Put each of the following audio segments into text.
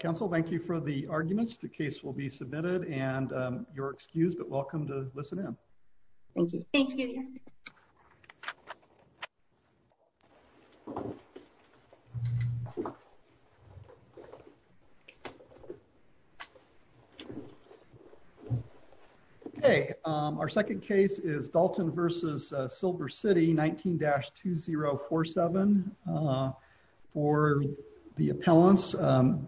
Council. Thank you for the arguments. The case will be submitted and you're excused. But welcome to listen in. Thank you. Hey, our second case is Dalton versus Silver City. 19-2047. Uh, for the talents. Um,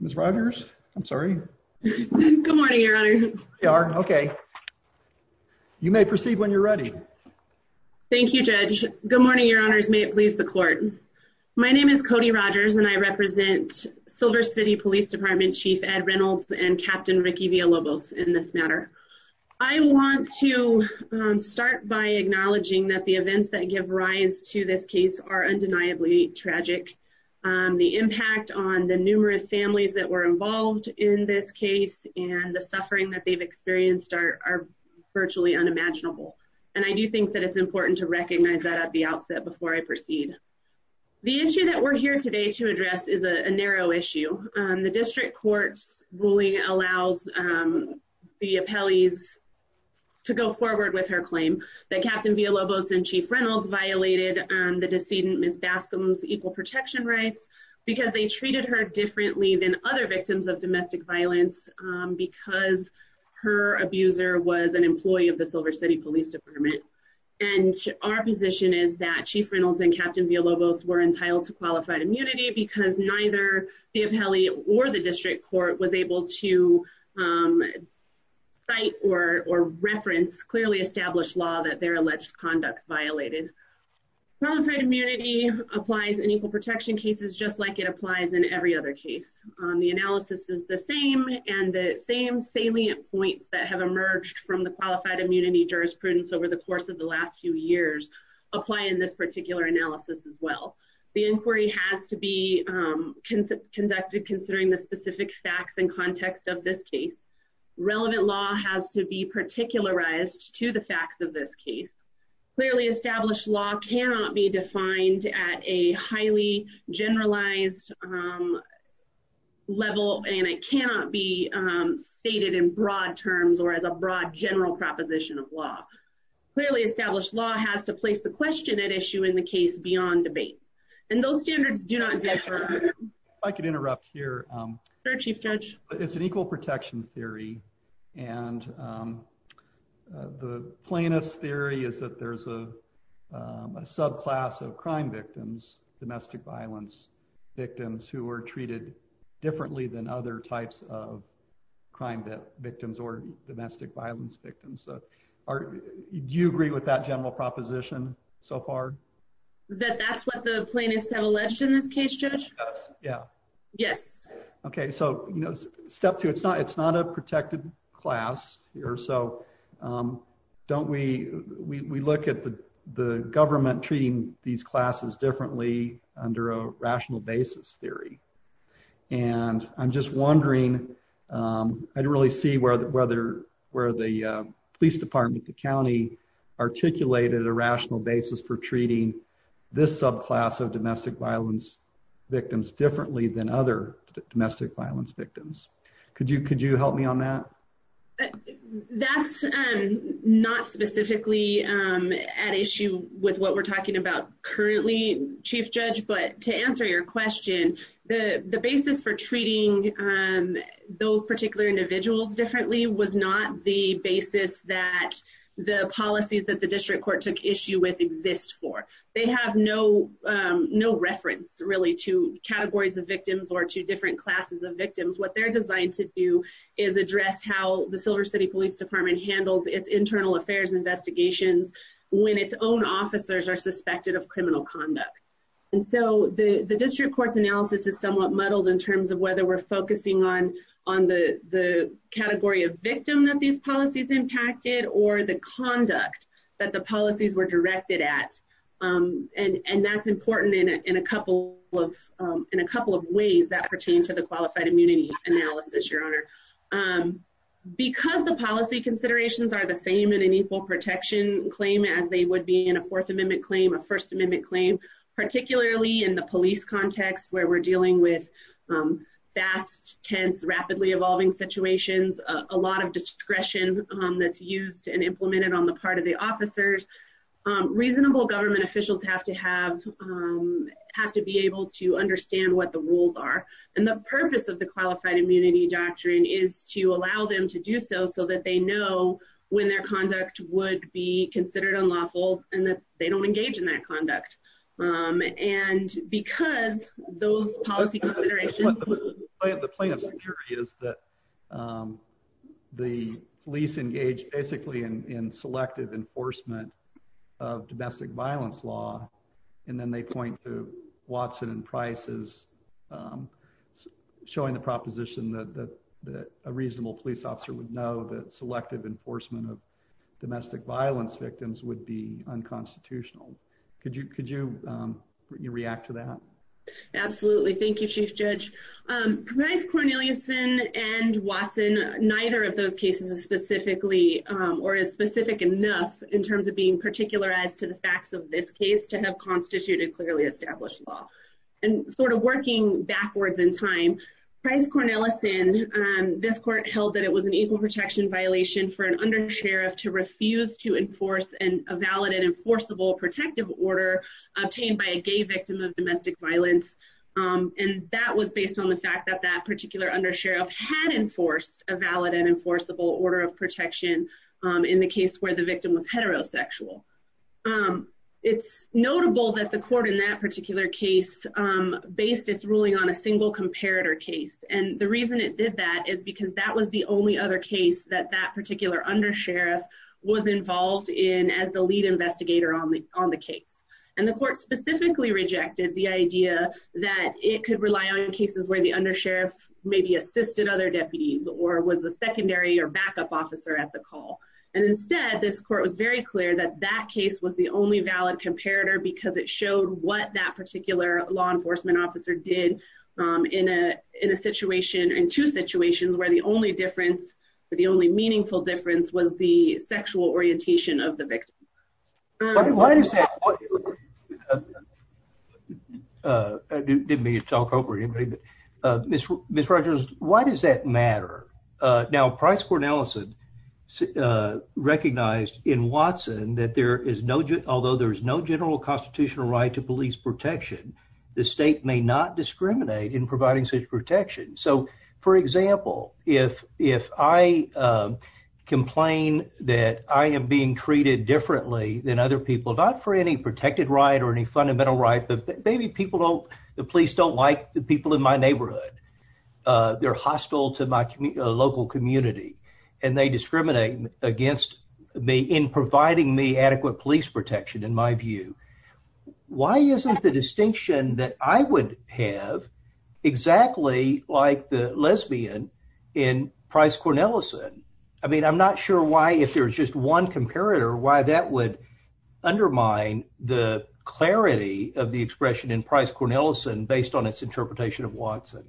Miss Rogers. I'm sorry. Good morning, Your Honor. Okay. You may proceed when you're ready. Thank you, Judge. Good morning, Your Honor's May it please the court. My name is Cody Rogers, and I represent Silver City Police Department Chief Ed Reynolds and Captain Ricky Villalobos. In this matter, I want to start by acknowledging that the events that give rise to this case are undeniably tragic. The impact on the numerous families that were involved in this case and the suffering that they've experienced are virtually unimaginable. And I do think that it's important to recognize that at the outset before I proceed. The issue that we're here today to address is a narrow issue. The district courts ruling allows, um, the appellees to go forward with her claim that Captain Villalobos and Chief Reynolds violated the decedent Miss Bascom's equal protection rights because they treated her differently than other victims of domestic violence because her abuser was an employee of the Silver City Police Department. And our position is that Chief Reynolds and Captain Villalobos were entitled to qualified immunity because neither the appellee or the district court was able to, um, Qualified immunity applies in equal protection cases just like it applies in every other case. Um, the analysis is the same and the same salient points that have emerged from the qualified immunity jurisprudence over the course of the last few years apply in this particular analysis as well. The inquiry has to be, um, conducted considering the specific facts and context of this case. Relevant law has to be particularized to the facts of this case. Clearly, established law cannot be defined at a highly generalized, um, level, and it cannot be, um, stated in broad terms or as a broad general proposition of law. Clearly, established law has to place the question at issue in the case beyond debate, and those standards do not differ. I could interrupt here. Um, there are chief judge. It's an equal protection theory, and, um, the plaintiff's theory is that there's a subclass of crime victims, domestic violence victims who were treated differently than other types of crime that victims or domestic violence victims. So are you agree with that general proposition so far that that's what the plaintiffs have alleged in this case? Judge? Yeah. Yes. Okay. So, you know, step two. It's not. It's not a protected class here. So, um, don't we? We look at the government treating these classes differently under a rational basis theory, and I'm just wondering, um, I don't really see where the weather where the police department, the county articulated a rational basis for treating this subclass of domestic violence victims differently than other domestic violence victims. Could you? Could you help me on that? That's not specifically at issue with what we're talking about currently, Chief Judge. But to answer your question, the basis for treating, um, those particular individuals differently was not the basis that the policies that the district court took issue with exist for. They have no no reference really to categories of victims or two different classes of victims. What they're designed to do is address how the Silver City Police Department handles its internal affairs investigations when its own officers are suspected of criminal conduct. And so the district court's analysis is somewhat muddled in terms of whether we're focusing on on the category of victim that these policies impacted or the conduct that the policies were directed at. Um, and and that's important in a couple of in a couple of ways that pertain to the qualified immunity analysis, your honor. Um, because the policy considerations are the same in an equal protection claim as they would be in a Fourth Amendment claim, a First Amendment claim, particularly in the police context where we're dealing with, um, fast, tense, rapidly evolving situations, a used and implemented on the part of the officers. Um, reasonable government officials have to have, um, have to be able to understand what the rules are. And the purpose of the qualified immunity doctrine is to allow them to do so so that they know when their conduct would be considered unlawful and that they don't engage in that conduct. Um, and because those policy considerations, the plaintiff's theory is that, um, the police engaged basically in in selective enforcement of domestic violence law. And then they point to Watson and Price's, um, showing the proposition that a reasonable police officer would know that selective enforcement of domestic violence victims would be unconstitutional. Could you could you react to that? Absolutely. Thank you, Chief Judge. Um, price Cornelius in and Watson. Neither of those cases is specifically or is specific enough in terms of being particular as to the facts of this case to have constituted clearly established law and sort of working backwards in time. Price Cornelius in this court held that it was an equal protection violation for an under sheriff to refuse to enforce and a valid and enforceable protective order obtained by a gay victim of domestic violence. Um, and that was based on the fact that that particular under sheriff had enforced a valid and enforceable order of protection. Um, in the case where the victim was heterosexual, um, it's notable that the court in that particular case, um, based its ruling on a single comparator case. And the reason it did that is because that was the only other case that that particular under sheriff was and the court specifically rejected the idea that it could rely on cases where the under sheriff maybe assisted other deputies or was the secondary or backup officer at the call. And instead, this court was very clear that that case was the only valid comparator because it showed what that particular law enforcement officer did in a in a situation in two situations where the only difference, the only meaningful difference was the sexual orientation of the victim. Why does that? Uh, didn't mean to talk over anybody, but, uh, Miss Rogers, why does that matter now? Price for Nelson, uh, recognized in Watson that there is no, although there is no general constitutional right to police protection, the state may not discriminate in providing such protection. So, for example, if if I, uh, complain that I am being treated differently than other people, not for any protected right or any fundamental right, but maybe people don't. The police don't like the people in my neighborhood. Uh, they're hostile to my local community, and they discriminate against me in providing me adequate police protection. In my view, why isn't the distinction that I would have exactly like the lesbian in Price Cornelison? I mean, I'm not sure why, if there's just one comparator, why that would undermine the clarity of the expression in Price Cornelison based on its interpretation of Watson.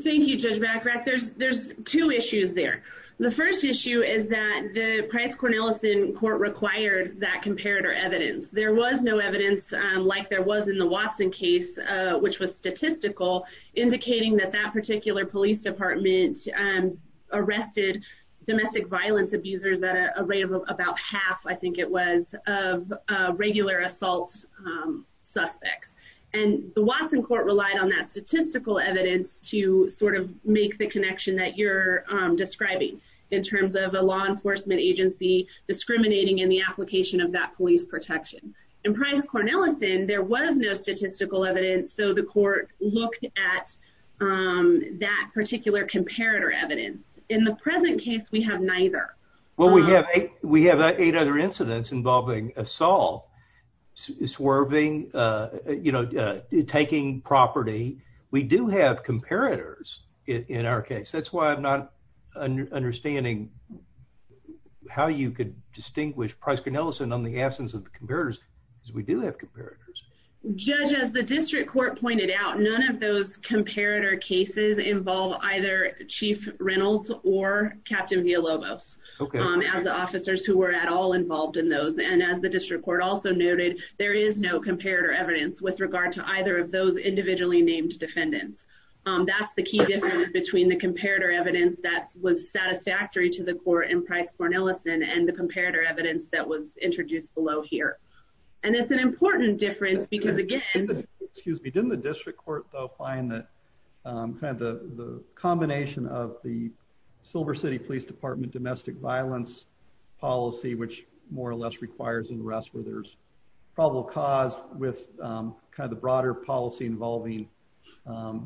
Thank you, Judge Macrack. There's there's two issues there. The first issue is that the Price Cornelison court required that comparator evidence. There was no evidence like there was in the Watson case, which was statistical, indicating that that particular police department, um, arrested domestic violence abusers at a rate of about half. I think it was of regular assault suspects, and the Watson court relied on that statistical evidence to sort of make the connection that you're describing in terms of a law enforcement agency discriminating in the application of that police protection. In Price Cornelison, there was no statistical evidence. So the court looked at, um, that particular comparator evidence. In the present case, we have neither. Well, we have we have eight other incidents involving assault, swerving, uh, you we do have comparators in our case. That's why I'm not understanding how you could distinguish Price Cornelison on the absence of comparators. We do have comparators. Judge, as the district court pointed out, none of those comparator cases involve either Chief Reynolds or Captain Villalobos as the officers who were at all involved in those. And as the district court also noted, there is no comparator evidence with regard to either of those individually named defendants. That's the key difference between the comparator evidence that was satisfactory to the court in Price Cornelison and the comparator evidence that was introduced below here. And it's an important difference because again, excuse me, didn't the district court, though, find that kind of the combination of the Silver City Police Department domestic violence policy, which more or less requires an arrest where there's probable cause with kind of the broader policy involving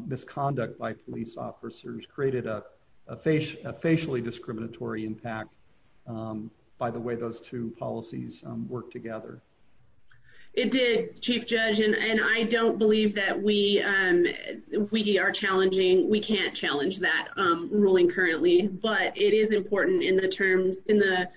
misconduct by police officers created a facially discriminatory impact. Um, by the way, those two policies work together. It did, Chief Judge, and I don't believe that we we are challenging. We can't challenge that ruling currently, but it is important in the terms in the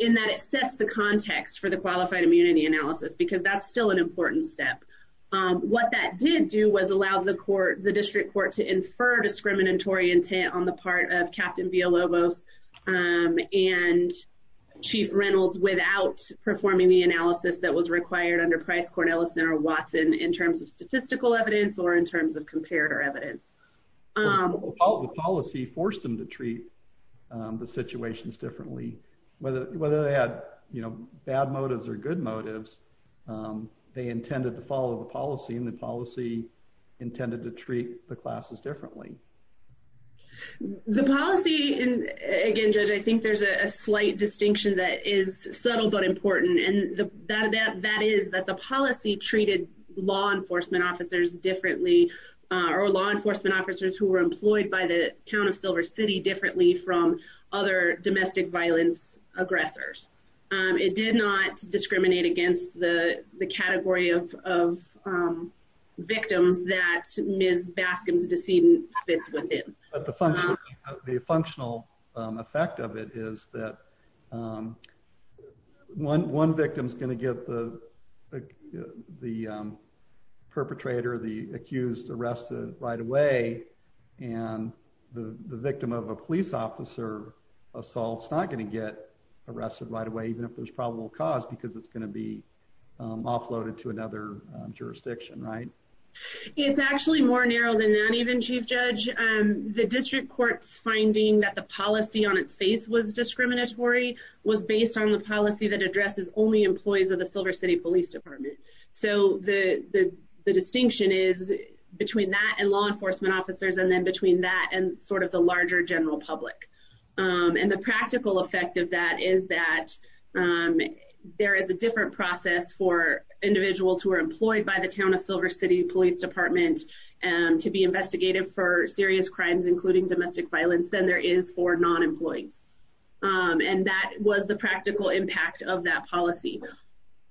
in that it sets the qualified immunity analysis because that's still an important step. What that did do was allowed the court, the district court to infer discriminatory intent on the part of Captain Villalobos, um, and Chief Reynolds without performing the analysis that was required under Price Cornelison or Watson in terms of statistical evidence or in terms of comparator evidence. Um, all the policy forced him to treat the situations differently, whether whether they had, you know, bad motives or good motives. Um, they intended to follow the policy and the policy intended to treat the classes differently. The policy and again, Judge, I think there's a slight distinction that is subtle but important, and that that that is that the policy treated law enforcement officers differently or law enforcement officers who were employed by the town of Silver City differently from other domestic violence aggressors. Um, it did not discriminate against the category of of, um, victims that Miss Baskin's decedent fits within the function of the functional effect of it is that, um, 11 victims going to get the the, um, perpetrator, the accused arrested right away, and the victim of a arrested right away, even if there's probable cause because it's gonna be, um, offloaded to another jurisdiction, right? It's actually more narrow than that. Even Chief Judge, the district court's finding that the policy on its face was discriminatory was based on the policy that addresses only employees of the Silver City Police Department. So the distinction is between that and law enforcement officers and then between that and sort of the larger general public. Um, and the practical effect of that is that, um, there is a different process for individuals who were employed by the town of Silver City Police Department to be investigated for serious crimes, including domestic violence than there is for non employees. Um, and that was the practical impact of that policy.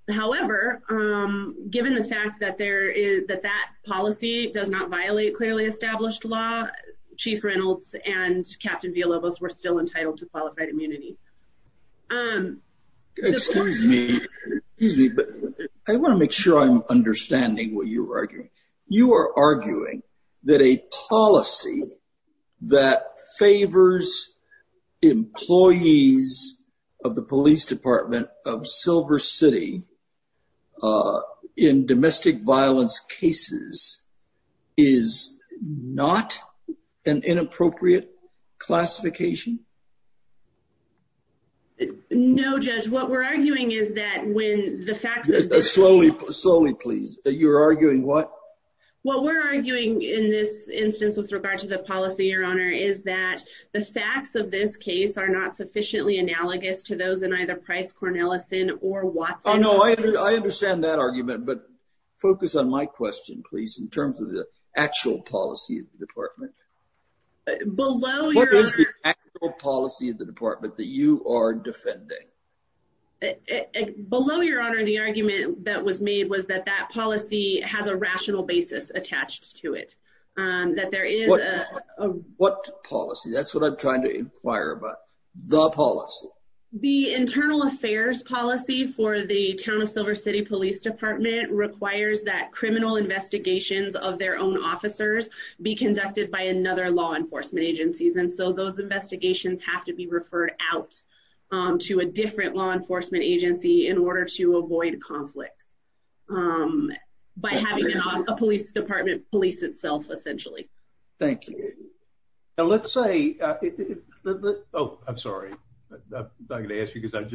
However, given the fact that there is that that policy does not violate clearly established law. Chief Reynolds and Captain Villalobos were still entitled to qualified immunity. Um, excuse me, but I want to make sure I'm understanding what you're arguing. You are arguing that a policy that favors employees of the Police Department of Silver City, uh, in is not an inappropriate classification. No, Judge. What we're arguing is that when the fact that slowly slowly, please, you're arguing what? What we're arguing in this instance with regard to the policy, your honor, is that the facts of this case are not sufficiently analogous to those in either Price Cornelison or Watson. No, I understand that argument. But focus on my question, please. In terms of the actual policy department below your policy of the department that you are defending below your honor, the argument that was made was that that policy has a rational basis attached to it. Um, that there is what policy? That's what I'm trying to inquire about the policy. The internal affairs policy for the town of City Police Department requires that criminal investigations of their own officers be conducted by another law enforcement agencies. And so those investigations have to be referred out to a different law enforcement agency in order to avoid conflicts. Um, by having a police department police itself essentially. Thank you. Let's say, Oh, I'm sorry. I'm gonna ask you because I am.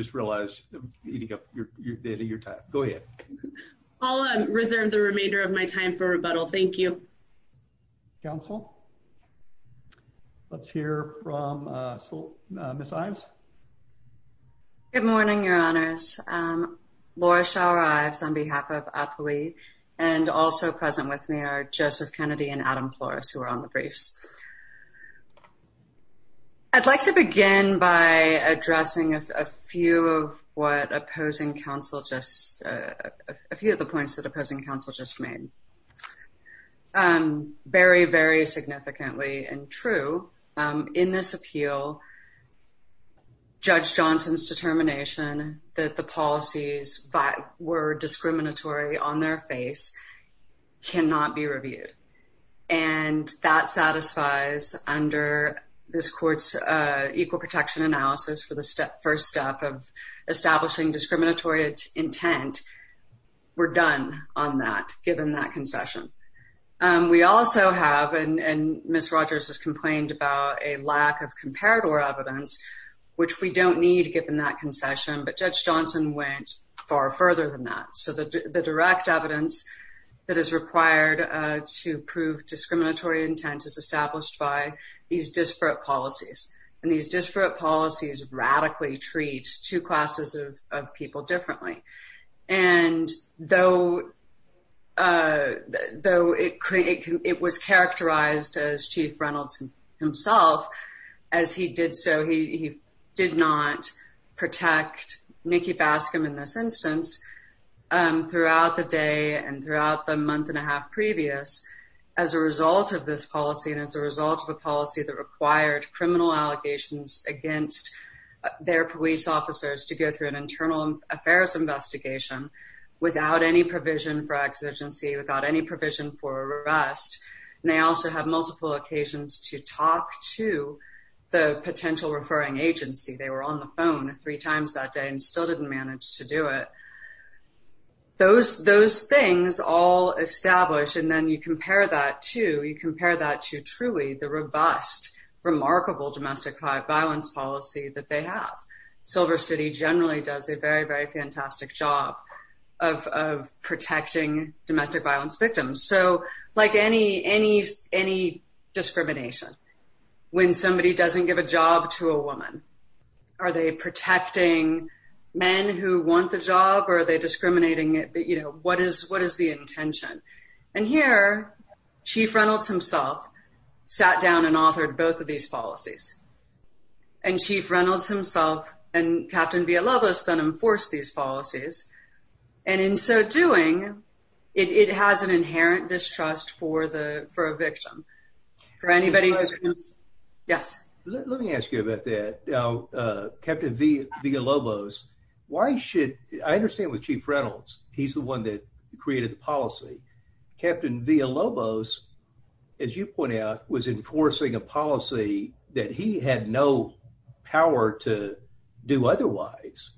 I'll reserve the remainder of my time for rebuttal. Thank you, Council. Let's hear from Miss Ives. Good morning, Your Honors. Um, Laura Shower Ives on behalf of Appley and also present with me are Joseph Kennedy and Adam Flores, who are on the briefs. Yeah, I'd like to begin by addressing a few of what opposing counsel just a few of the points that opposing counsel just made. Um, very, very significantly and true in this appeal, Judge Johnson's determination that the policies were discriminatory on their face cannot be reviewed, and that satisfies under this court's equal protection analysis for the step first step of establishing discriminatory intent. We're done on that. Given that concession, we also have and Miss Rogers has complained about a lack of comparator evidence, which we don't need given that concession. But Judge Johnson went far further than that. So the direct evidence that is required to prove discriminatory intent is established by these disparate policies, and these disparate policies radically treat two classes of people differently. And though, uh, though it was characterized as Chief Reynolds himself as he did so, he did not protect Nikki Bascom in this instance, um, throughout the day and throughout the month and a half previous as a result of this policy and as a result of a policy that required criminal allegations against their police officers to go through an internal affairs investigation without any provision for exigency, without any provision for arrest. And they also have multiple occasions to talk to the potential referring agency. They were on the phone three times that day and still didn't manage to do it. Those those things all established. And then you compare that to you compare that to truly the robust, remarkable domestic violence policy that they have. Silver City generally does a very, very fantastic job of protecting domestic violence victims. So like any any any discrimination when somebody doesn't give a job to a woman, are they protecting men who want the job or are they discriminating it? But you know, what is what is the intention? And here, Chief Reynolds himself sat down and authored both of these policies and Chief Reynolds himself and Captain be a loveless than enforce these policies. And in so doing, it has an inherent distrust for the for a victim for anybody. Yes, let me ask you about that. Now, Captain Villalobos, why should I understand with Chief Reynolds? He's the one that created the policy. Captain Villalobos, as you point out, was enforcing a policy that he had no power to do otherwise.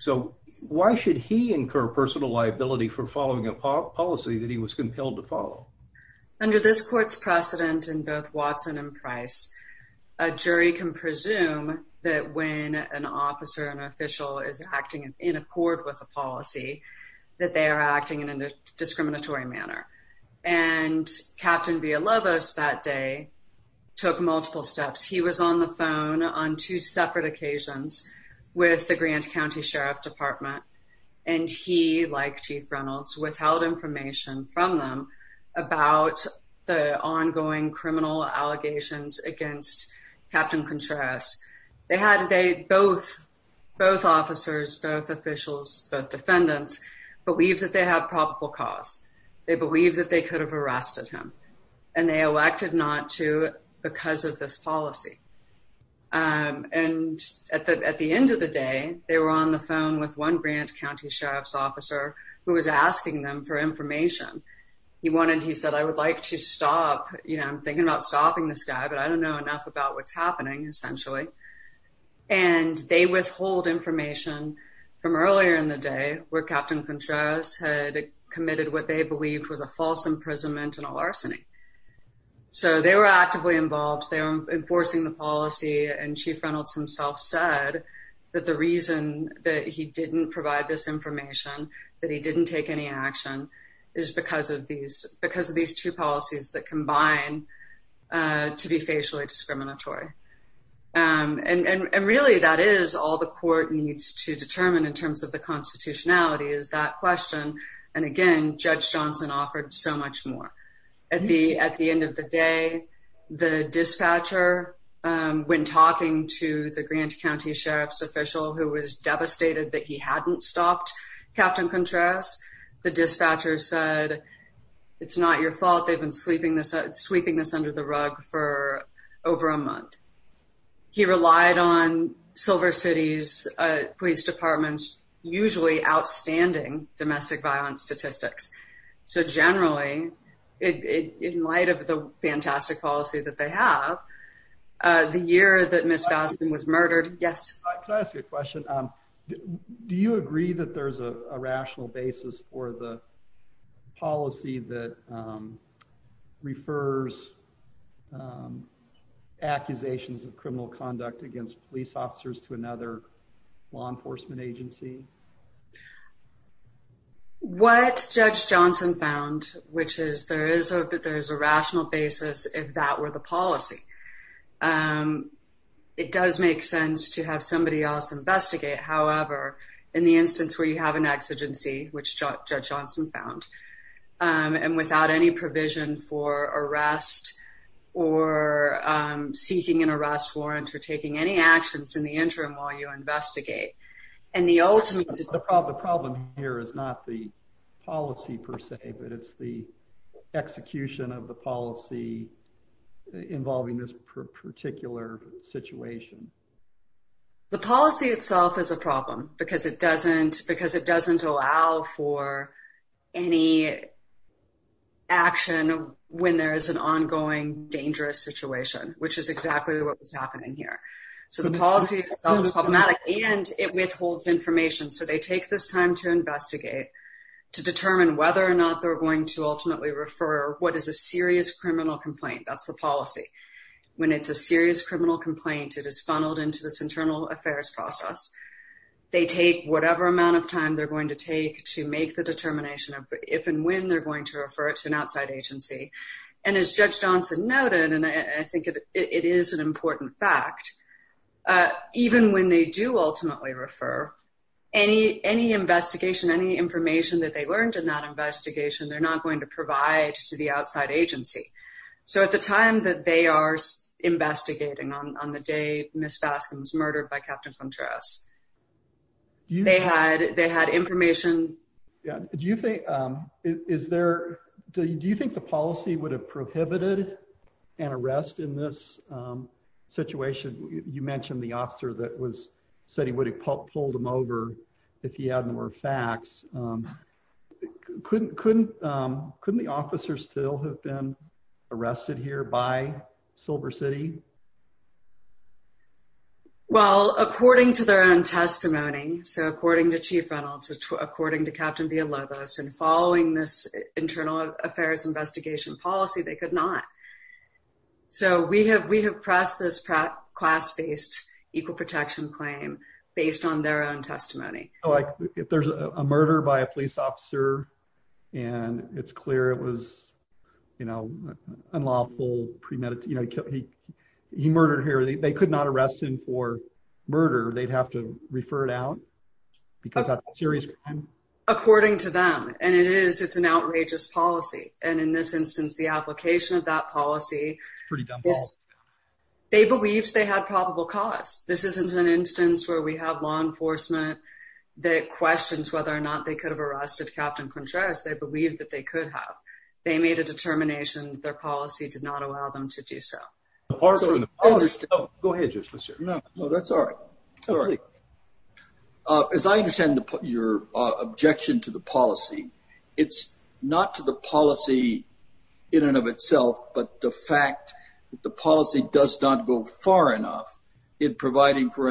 So why should he incur personal liability for following a policy that he was compelled to follow under this court's precedent in both Watson and Price? A jury can that when an officer and official is acting in accord with a policy that they're acting in a discriminatory manner. And Captain Villalobos that day took multiple steps. He was on the phone on two separate occasions with the Grant County Sheriff Department, and he, like Chief Reynolds, without information from them about the ongoing criminal allegations against Captain Contreras, they had a day. Both both officers, both officials, both defendants believe that they have probable cause. They believe that they could have arrested him, and they elected not to because of this policy. Um, and at the end of the day, they were on the phone with one Grant County Sheriff's officer who was asking them for information. He wanted. He said, I would like to stop. You know, I'm thinking about stopping this guy, but I essentially and they withhold information from earlier in the day where Captain Contreras had committed what they believed was a false imprisonment and a larceny. So they were actively involved. They were enforcing the policy, and Chief Reynolds himself said that the reason that he didn't provide this information that he didn't take any action is because of these because of these two policies that combine, uh, to be racially discriminatory. Um, and really, that is all the court needs to determine in terms of the constitutionality is that question. And again, Judge Johnson offered so much more at the at the end of the day. The dispatcher, um, when talking to the Grant County Sheriff's official who was devastated that he hadn't stopped Captain Contreras, the dispatcher said, it's not your fault. They've been sleeping this sweeping this under the over a month. He relied on Silver City's police departments, usually outstanding domestic violence statistics. So generally, it in light of the fantastic policy that they have the year that Miss Boston was murdered. Yes, I ask you a question. Do you agree that there's a rational accusations of criminal conduct against police officers to another law enforcement agency? What Judge Johnson found, which is there is a that there is a rational basis. If that were the policy, um, it does make sense to have somebody else investigate. However, in the instance where you have an exigency, which seeking an arrest warrant for taking any actions in the interim while you investigate and the ultimate problem here is not the policy per se, but it's the execution of the policy involving this particular situation. The policy itself is a problem because it doesn't because it doesn't allow for any action when there is an ongoing dangerous situation, which is exactly what was happening here. So the policy problematic and it withholds information. So they take this time to investigate to determine whether or not they're going to ultimately refer what is a serious criminal complaint. That's the policy. When it's a serious criminal complaint, it is funneled into this internal affairs process. They take whatever amount of time they're going to take to make the determination of if and when they're going to refer it to an outside agency. And as Judge Johnson noted, and I think it is an important fact, even when they do ultimately refer any any investigation, any information that they learned in that investigation, they're not going to provide to the outside agency. So at the time that they are investigating on the day Miss Baskin was murdered by Captain Contreras, they had they had information. Do you think is there? Do you think the policy would have prohibited an arrest in this situation? You mentioned the officer that was said he would have pulled him over if he hadn't were facts. Couldn't couldn't. Couldn't the officer still have been arrested here by Silver City? Well, according to their own testimony, so according to Chief Reynolds, according to Captain Villalobos and following this internal affairs investigation policy, they could not. So we have we have pressed this class-based equal protection claim based on their own testimony. Like if there's a murder by a police officer and it's clear it was, you know, unlawful premeditated, you know, he he murdered here. They could not arrest him for murder. They'd have to refer it out because that's serious. According to them, and it is. It's an outrageous policy. And in this instance, the application of that policy pretty dumb. They believed they had probable cause. This isn't an instance where we have law enforcement that questions whether or not they could have arrested Captain Contreras. They believed that they could have. They made a determination. Their policy did not allow them to do so. Go ahead. No, that's all right. As I understand your objection to the policy, it's not to the policy in and of itself, but the fact that the policy does not go far enough in providing for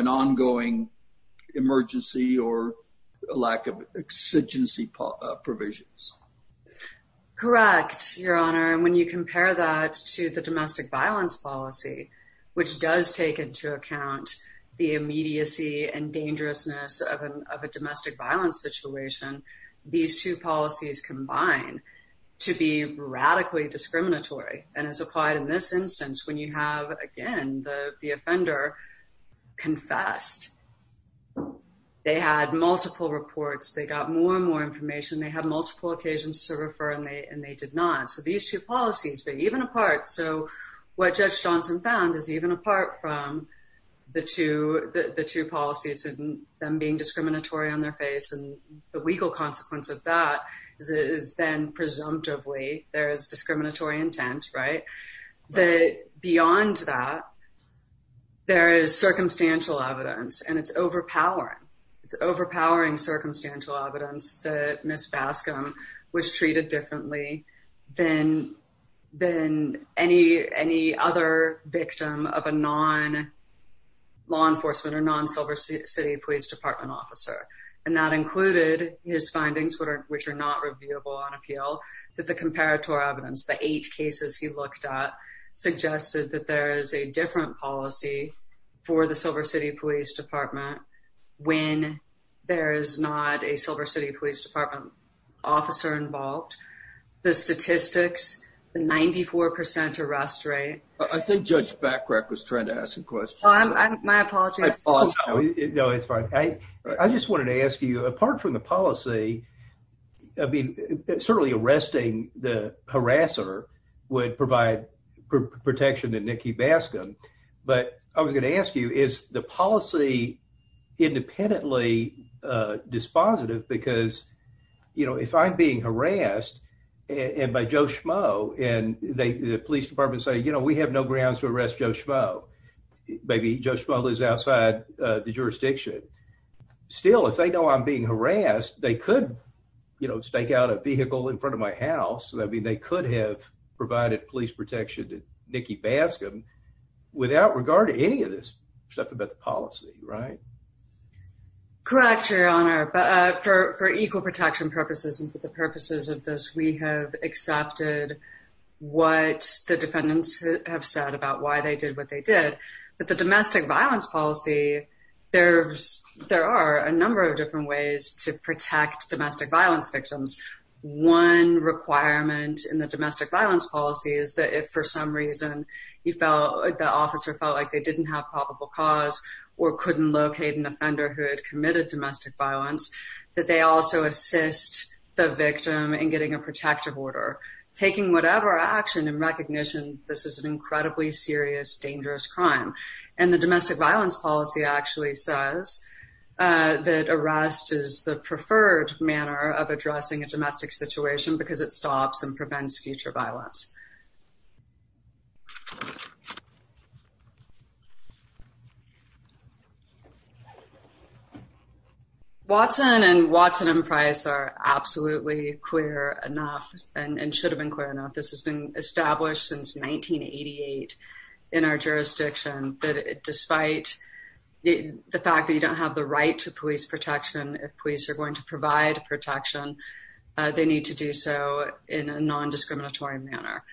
correct your honor. And when you compare that to the domestic violence policy, which does take into account the immediacy and dangerousness of a domestic violence situation, these two policies combine to be radically discriminatory and has applied in this instance. When you have again the offender confessed, they had multiple reports. They got more and more and they and they did not. So these two policies, but even apart. So what Judge Johnson found is even apart from the to the two policies and them being discriminatory on their face and the legal consequence of that is then presumptively there is discriminatory intent, right? The beyond that there is circumstantial evidence, and it's overpowering. It's overpowering circumstantial evidence that Miss Bascom was treated differently than than any any other victim of a non law enforcement or non Silver City Police Department officer. And that included his findings, which are not reviewable on appeal that the comparator evidence the eight cases he looked at suggested that there is a different policy for the Silver City Police Department when there is not a Silver City Police Department officer involved. The statistics 94% arrest rate. I think Judge Backrek was trying to ask some questions. My apologies. No, it's fine. I just wanted to ask you apart from the policy. I mean, certainly arresting the harasser would provide protection to dispositive, because, you know, if I'm being harassed and by Joe Schmo and the police department say, you know, we have no grounds to arrest Joe Schmo. Maybe Joe Schmo lives outside the jurisdiction. Still, if they know I'm being harassed, they could, you know, stake out a vehicle in front of my house. I mean, they could have provided police protection to Nikki Bascom without regard to any of this stuff about the policy, right? Correct, Your Honor. But for equal protection purposes and for the purposes of this, we have accepted what the defendants have said about why they did what they did. But the domestic violence policy, there are a number of different ways to protect domestic violence victims. One requirement in the domestic violence policy is that if for some reason you felt the officer felt like they didn't have probable cause or couldn't locate an offender who had committed domestic violence, that they also assist the victim in getting a protective order, taking whatever action in recognition this is an incredibly serious, dangerous crime. And the domestic violence policy actually says that arrest is the preferred manner of addressing a domestic situation because it stops and prevents future violence. Watson and Watson and Price are absolutely queer enough and should have been clear enough. This has been established since 1988 in our jurisdiction, that despite the fact that you don't have the right to police protection, if police are going to provide protection, they need to do so in a non discriminatory manner.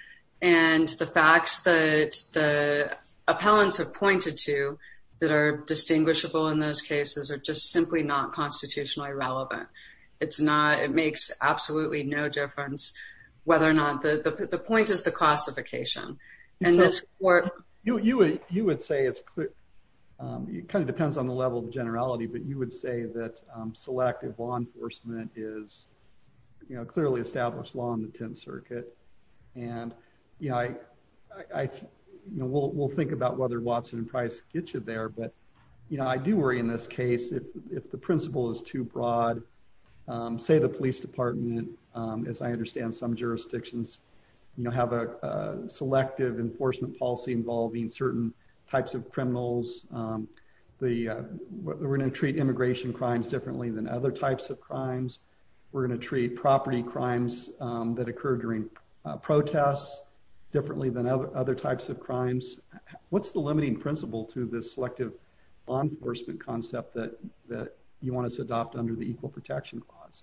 And the facts that the appellants have pointed to that are distinguishable in those cases are just simply not constitutionally relevant. It's not. It makes absolutely no difference whether or not the point is the classification. And that's what you would you would say it's kind of depends on the level of generality. But you would say that selective law enforcement is, you know, clearly established law in the 10th Circuit. And you know, I will think about whether Watson and Price get you there. But, you know, I do worry in this case, if the principle is too broad, say the police department, as I understand some jurisdictions, you have a selective enforcement policy involving certain types of criminals. The we're gonna treat immigration crimes differently than other types of crimes. We're gonna treat property crimes that occur during protests differently than other types of crimes. What's the limiting principle to this selective law enforcement concept that you want us to adopt under the Equal Protection Clause?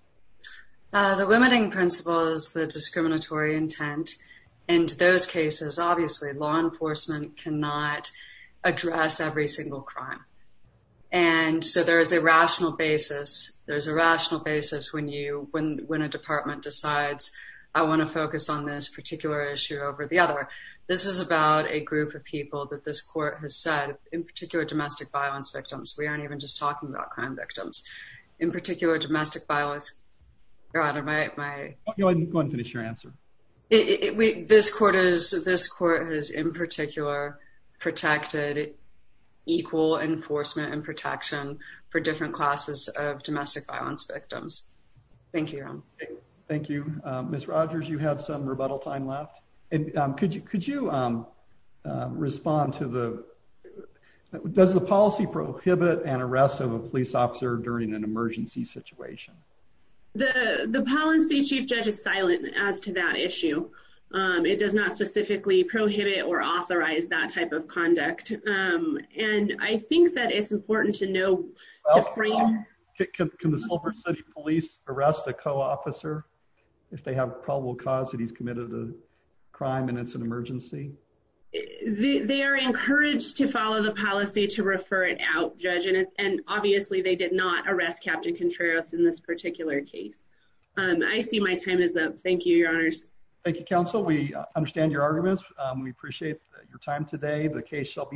The limiting principle is the discriminatory intent. And those cases, obviously, law enforcement cannot address every single crime. And so there is a rational basis. There's a rational basis when you when when a department decides, I want to focus on this particular issue over the other. This is about a group of people that this court has said, in particular, domestic violence victims, we aren't even just talking about crime victims, in particular, domestic violence. Your Honor, my Go ahead and finish your answer. It we this court is this court has in particular, protected equal enforcement and protection for different classes of domestic violence victims. Thank you. Thank you, Miss Rogers. You had some rebuttal time left. And could you could you, um, respond to the does the policy prohibit an arrest of a police officer during an emergency situation? The policy chief judge is silent as to that issue. It does not specifically prohibit or authorize that type of conduct. And I think that it's important to know. Can the Silver City police arrest a co officer if they have probable cause that he's committed a crime and it's an emergency? They are encouraged to follow the policy to refer it out, Judge. And obviously, they did not arrest Captain Contreras in this particular case. I see my time is up. Thank you, Your Honors. Thank you, Counsel. We understand your arguments. We appreciate your time today. The case shall be